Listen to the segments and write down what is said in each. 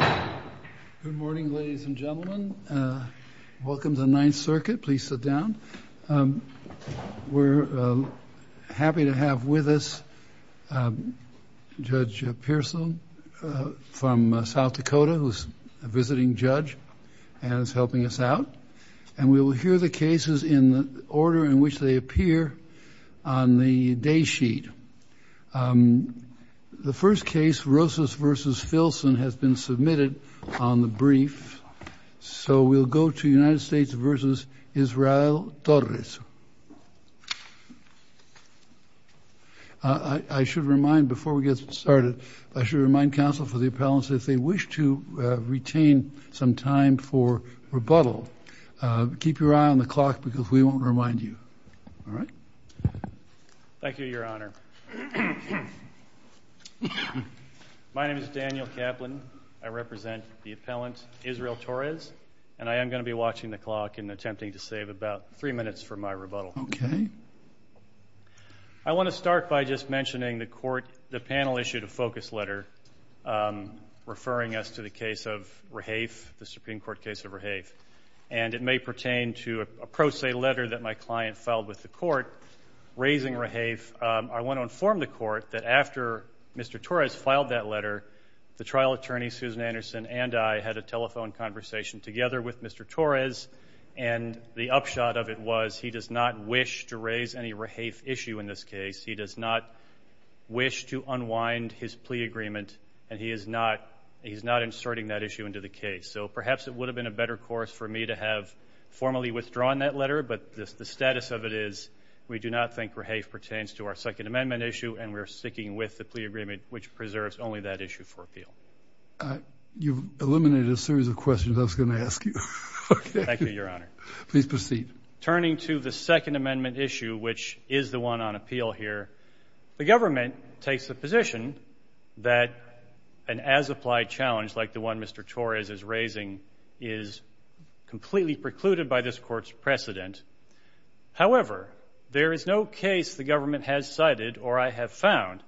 Good morning, ladies and gentlemen. Welcome to the Ninth Circuit. Please sit down. We're happy to have with us Judge Pearsall from South Dakota, who's a visiting judge and is helping us out. And we will hear the cases in the order in which they appear on the day sheet. The first case, Rosas v. Filson, has been submitted on the brief. So we'll go to United States v. Israel Torres. I should remind, before we get started, I should remind counsel for the appellants, if they wish to retain some time for rebuttal, keep your eye on the counter. My name is Daniel Kaplan. I represent the appellant, Israel Torres, and I am going to be watching the clock and attempting to save about three minutes for my rebuttal. I want to start by just mentioning the panel issued a focus letter referring us to the case of Rahaf, the Supreme Court case of Rahaf. And it may pertain to a pro se letter that my client filed with the court raising Rahaf. I want to inform the court that after Mr. Torres filed that letter, the trial attorney, Susan Anderson, and I had a telephone conversation together with Mr. Torres. And the upshot of it was he does not wish to raise any Rahaf issue in this case. He does not wish to unwind his plea agreement, and he is not inserting that issue into the case. So perhaps it would have been a better course for me to have formally The status of it is we do not think Rahaf pertains to our Second Amendment issue, and we're sticking with the plea agreement, which preserves only that issue for appeal. You've eliminated a series of questions I was going to ask you. Thank you, Your Honor. Please proceed. Turning to the Second Amendment issue, which is the one on appeal here, the government takes the position that an as-applied challenge like the one Mr. Torres is raising is completely precluded by this Court's precedent. However, there is no case the government has cited or I have found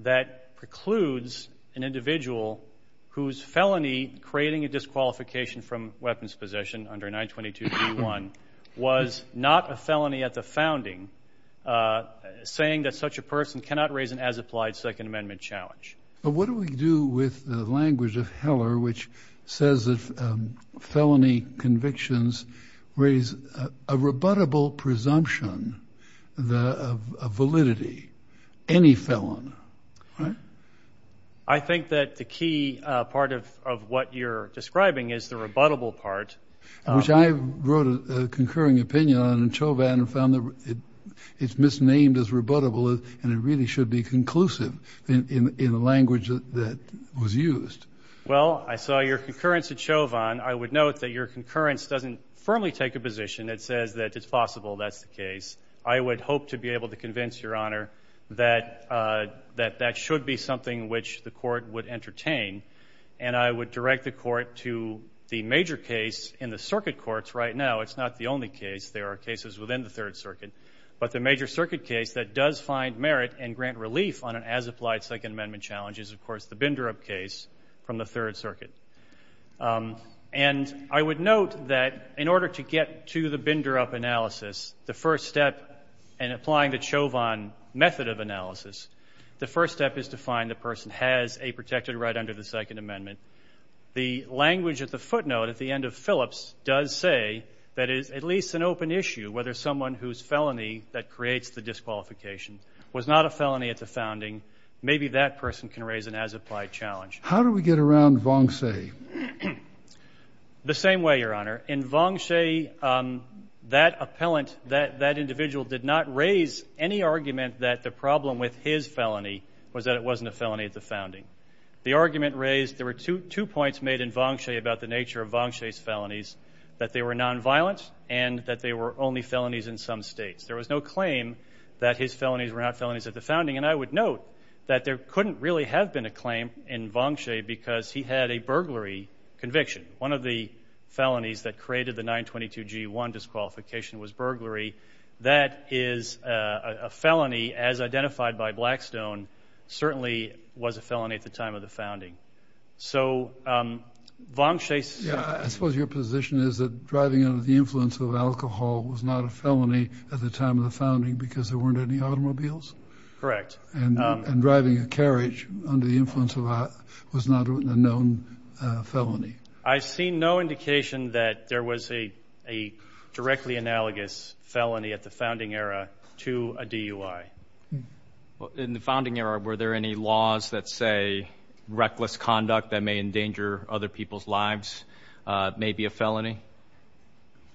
that precludes an individual whose felony, creating a disqualification from weapons possession under 922b1, was not a felony at the founding, saying that such a person cannot raise an as-applied Second Amendment challenge. But what do we do with the language of Heller, which says that felony convictions raise a rebuttable presumption of validity, any felon? I think that the key part of what you're describing is the rebuttable part. Which I wrote a concurring opinion on in Chauvin and found that it's misnamed as rebuttable, and it really should be conclusive in the language that was used. Well, I saw your concurrence at Chauvin. I would note that your concurrence doesn't firmly take a position that says that it's possible that's the case. I would hope to be able to convince Your Honor that that should be something which the Court would entertain. And I would direct the Court to the major case in the circuit courts right now. It's not the only case. There are cases within the Third Circuit. But the major circuit case that does find merit and grant relief on an as-applied Second Amendment challenge is, of course, the Binderup case from the Third Circuit. And I would note that in order to get to the Binderup analysis, the first step in applying the Chauvin method of analysis, the first step is to find the person has a protected right under the Second Amendment. The language at the footnote at the end of Phillips does say that it is at least an open issue whether someone whose felony that creates the disqualification was not a felony at the founding. Maybe that person can raise an as-applied challenge. How do we get around Vongsae? The same way, Your Honor. In Vongsae, that appellant, that individual did not raise any argument that the problem with his felony was that it wasn't a felony at the founding. The argument raised, there were two points made in Vongsae about the nature of Vongsae's that they were nonviolent and that they were only felonies in some states. There was no claim that his felonies were not felonies at the founding. And I would note that there couldn't really have been a claim in Vongsae because he had a burglary conviction. One of the felonies that created the 922G1 disqualification was burglary. That is a felony, as identified by Blackstone, certainly was a felony at the time of the founding. So Vongsae's... Driving under the influence of alcohol was not a felony at the time of the founding because there weren't any automobiles? Correct. And driving a carriage under the influence of alcohol was not a known felony? I see no indication that there was a directly analogous felony at the founding era to a DUI. In the founding era, were there any laws that say reckless conduct that may endanger other people's lives may be a felony?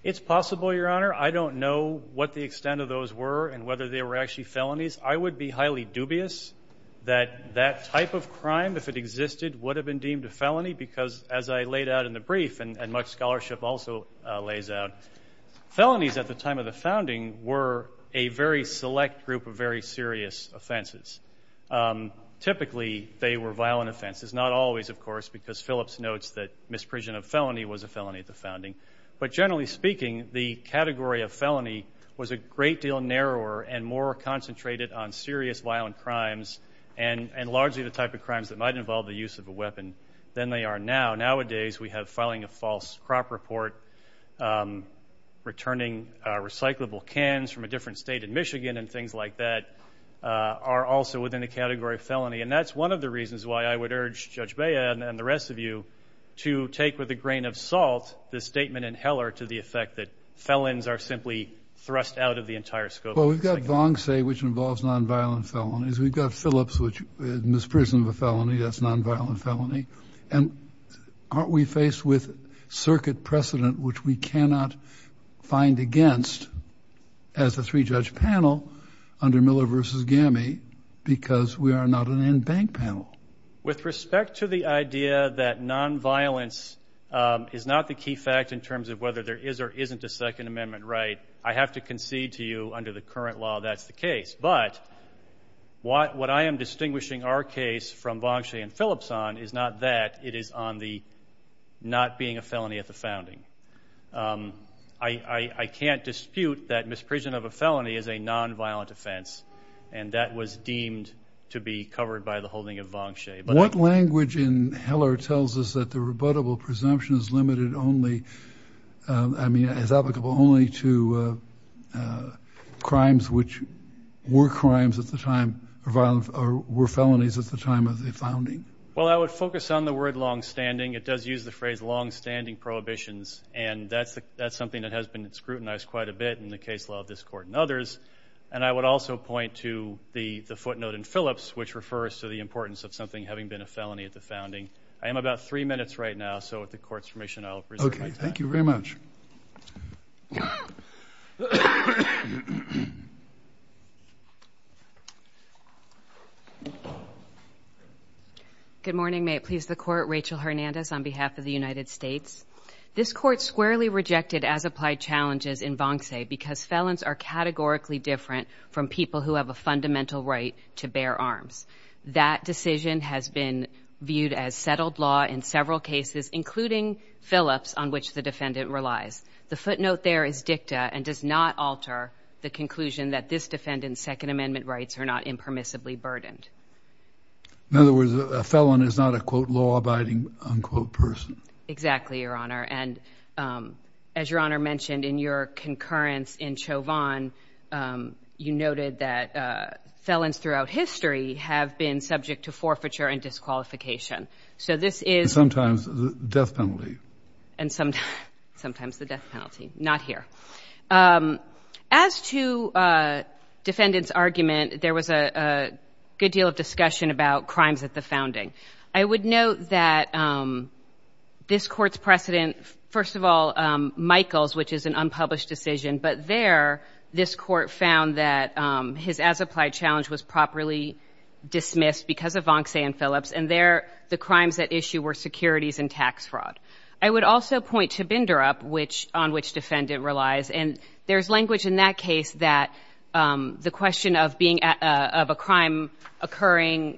It's possible, Your Honor. I don't know what the extent of those were and whether they were actually felonies. I would be highly dubious that that type of crime, if it existed, would have been deemed a felony because, as I laid out in the brief, and much scholarship also lays out, felonies at the time of the founding were a very select group of very serious offenses. Typically, they were violent offenses. Not always, of course, because Phillips notes that misprision of felony was a felony at the founding. But generally speaking, the category of felony was a great deal narrower and more concentrated on serious violent crimes and largely the type of crimes that might involve the use of a weapon than they are now. Nowadays, we have filing a false crop report, returning recyclable cans from a different state in Michigan and things like that are also within the category of felony. And that's one of the reasons why I would urge Judge Bea and the rest of you to take with a grain of salt the statement in Heller to the effect that felons are simply thrust out of the entire scope of the indictment. Well, we've got Vongsay, which involves nonviolent felonies. We've got Phillips, which is misprision of a felony. That's nonviolent felony. And aren't we faced with circuit precedent, which we cannot find against as a three-judge panel under Miller v. Gammey because we are not a nonviolent bank panel? With respect to the idea that nonviolence is not the key fact in terms of whether there is or isn't a Second Amendment right, I have to concede to you under the current law that's the case. But what I am distinguishing our case from Vongsay and Phillips on is not that, it is on the not being a felony at the founding. I can't dispute that misprision of a felony is a nonviolent offense, and that was deemed to be covered by the holding of Vongsay. What language in Heller tells us that the rebuttable presumption is limited only, I mean, is applicable only to crimes which were crimes at the time, were felonies at the time of the founding? Well, I would focus on the word longstanding. It does use the phrase longstanding prohibitions, and that's something that has been scrutinized quite a bit in the case law of this Court and others. And I would also point to the footnote in Phillips, which refers to the importance of something having been a felony at the founding. I am about three minutes right now, so with the Court's permission, I'll reserve my time. Okay. Thank you very much. Good morning. May it please the Court. Rachel Hernandez on behalf of the United States. This Court squarely rejected as-applied challenges in Vongsay because felons are categorically different from people who have a fundamental right to bear arms. That decision has been viewed as settled law in several cases, including Phillips, on which the defendant relies. The footnote there is dicta and does not alter the conclusion that this defendant's Second Amendment rights are not impermissibly burdened. In other words, a felon is not a, quote, law-abiding, unquote, person. Exactly, Your Honor. And as Your Honor mentioned in your concurrence in Chauvin, you noted that felons throughout history have been subject to forfeiture and disqualification. So this is- And sometimes the death penalty. And sometimes the death penalty. Not here. As to defendant's argument, there was a good deal of discussion about crimes at the founding. I would note that this Court's precedent, first of all, Michaels, which is an unpublished decision. But there, this Court found that his as-applied challenge was properly dismissed because of Vongsay and Phillips. And there, the crimes at issue were securities and tax fraud. I would also point to Binderup, on which defendant relies. And there's language in that case that the question of a crime occurring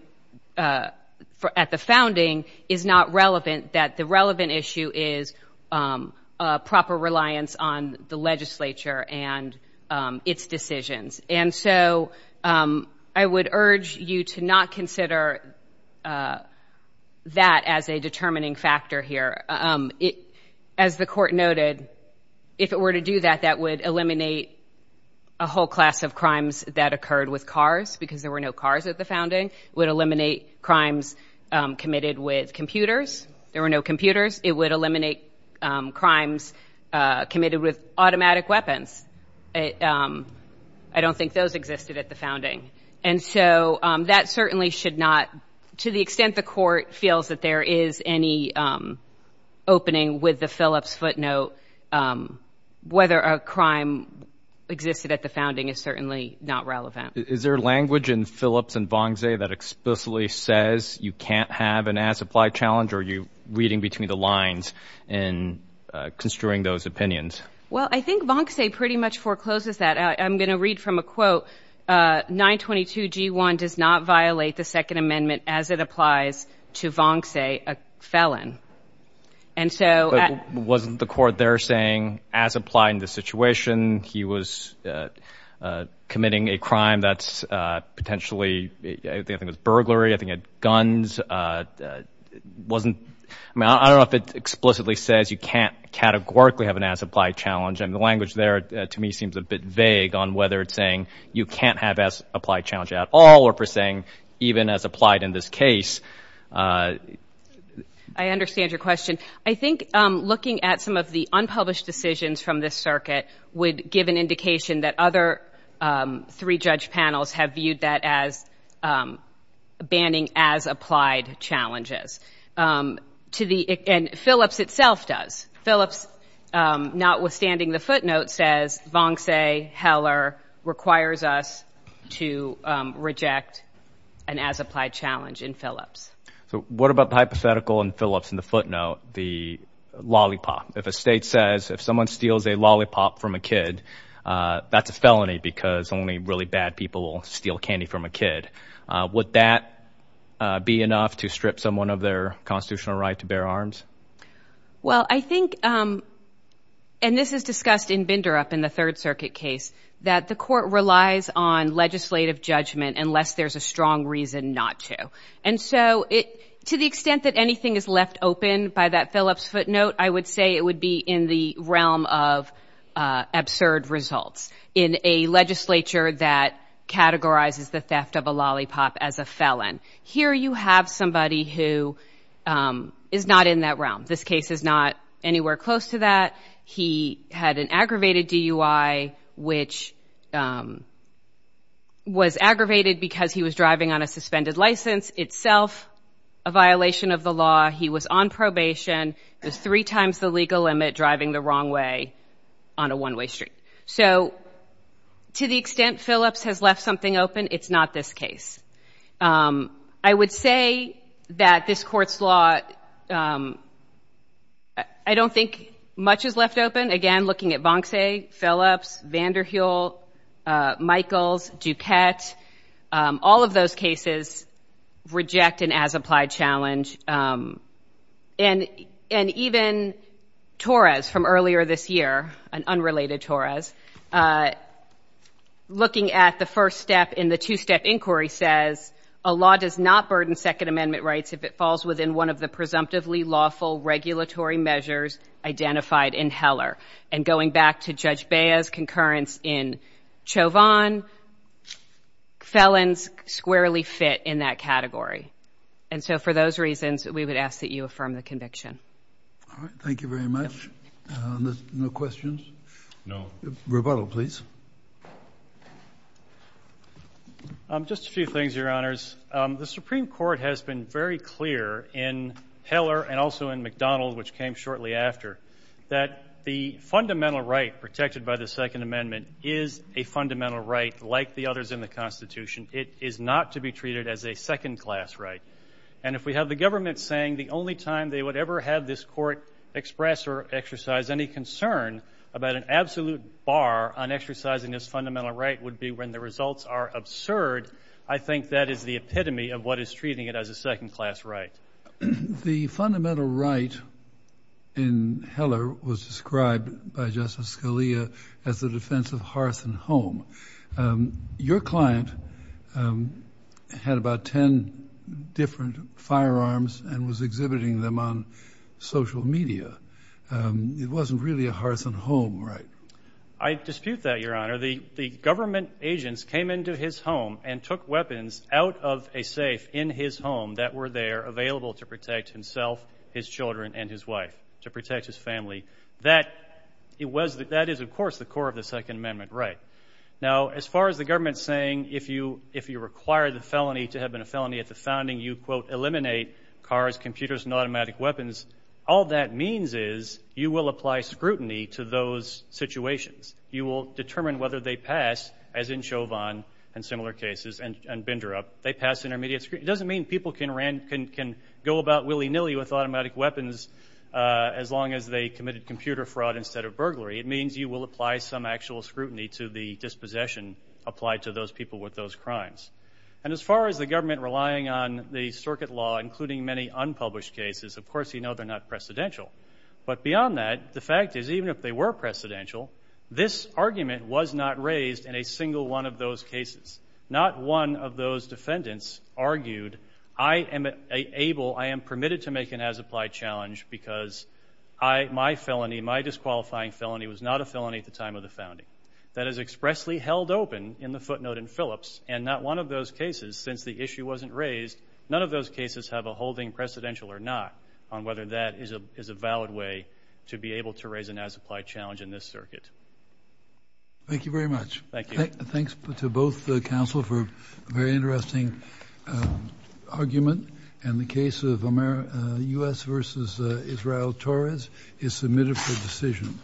at the founding is not relevant, that the relevant issue is proper reliance on the legislature and its decisions. And so I would urge you to not consider that as a determining factor here. As the Court noted, if it were to do that, that would eliminate a whole class of crimes that occurred with cars, because there were no cars at the founding. It would eliminate crimes committed with computers. There were no computers. It would eliminate crimes committed with automatic weapons. I don't think those existed at the founding. And so that certainly should not, to the extent the Court feels that there is any opening with the Phillips footnote, whether a crime existed at the founding is certainly not relevant. Is there language in Phillips and Vongsay that explicitly says you can't have an as-applied challenge? Or are you reading between the lines in construing those opinions? Well, I think Vongsay pretty much forecloses that. I'm going to read from a quote. 922 Wasn't the Court there saying, as applied in this situation, he was committing a crime that's potentially, I think it was burglary, I think it was guns? I don't know if it explicitly says you can't categorically have an as-applied challenge. And the language there to me seems a bit vague on whether it's saying you can't have as-applied challenge at all, or if it's saying even as applied in this case. I understand your question. I think looking at some of the unpublished decisions from this circuit would give an indication that other three judge panels have viewed that as banning as-applied challenges. And Phillips itself does. Phillips, notwithstanding the as-applied challenge in Phillips. So what about the hypothetical in Phillips in the footnote, the lollipop? If a state says if someone steals a lollipop from a kid, that's a felony because only really bad people steal candy from a kid. Would that be enough to strip someone of their constitutional right to bear arms? Well, I think, and this is discussed in Binderup in the Third Circuit case, that the Court relies on legislative judgment unless there's a strong reason not to. And so to the extent that anything is left open by that Phillips footnote, I would say it would be in the realm of absurd results in a legislature that categorizes the theft of a lollipop as a felon. Here you have somebody who is not in that realm. This case is not anywhere close to that. He had an aggravated DUI, which was aggravated because he was driving on a suspended license, itself a violation of the law. He was on probation. It was three times the legal limit driving the wrong way on a one-way street. So to the extent Phillips has left something open, it's not this case. I would say that this Court's law, I don't think much is left open. Again, looking at Vonce, Phillips, Vander Heel, Michaels, Duquette, all of those cases reject an as-applied challenge. And even Torres from earlier this year, an unrelated Torres, looking at the first step in the two-step inquiry says, a law does not burden Second Amendment rights if it falls within one of the presumptively lawful regulatory measures identified in Heller. And going back to Judge Bea's concurrence in Chauvin, felons squarely fit in that category. And so for those reasons, we would ask that you affirm the conviction. All right. Thank you very much. No questions? No. Rebuttal, please. Just a few things, Your Honors. The Supreme Court has been very clear in Heller and also in McDonald, which came shortly after, that the fundamental right protected by the Second Amendment is a fundamental right like the others in the Constitution. It is not to be treated as a second-class right. And if we have the government saying the only time they would ever have this Court express or exercise any concern about an absolute bar on exercising this fundamental right would be when the results are absurd, I think that is the epitome of what is treating it as a second-class right. The fundamental right in Heller was described by Justice Scalia as the defense of hearth and home. Your client had about 10 different firearms and was exhibiting them on social media. It wasn't really a hearth and home right? I dispute that, Your Honor. The government agents came into his home and took weapons out of a safe in his home that were there available to protect himself, his children, and his wife, to protect his family. That is, of course, the core of the Second Amendment right. Now, as far as the government saying if you require the felony to have been a felony at the founding, you, quote, eliminate cars, computers, and automatic weapons, all that means is you will apply scrutiny to those situations. You will determine whether they pass, as in Chauvin and similar cases and Binderup, they pass intermediate scrutiny. It doesn't mean people can go about willy-nilly with automatic weapons as long as they committed computer fraud instead of burglary. It means you will apply some actual scrutiny to the dispossession applied to those people with those crimes. And as far as the government relying on the circuit law, including many unpublished cases, of course you know they're not precedential. But beyond that, the fact is even if they were precedential, this argument was not raised in a single one of those cases. Not one of those defendants argued, I am able, I am permitted to make an as-applied challenge because I, my felony, my disqualifying felony was not a felony at the time of the founding. That is expressly held open in the footnote in Phillips, and not one of those cases, since the issue wasn't raised, none of those cases have a holding precedential or not on whether that is a valid way to be able to raise an as-applied challenge in this circuit. Thank you very much. Thank you. Thanks to both counsel for a very interesting argument, and the case of U.S. v. Israel-Torres is submitted for decision.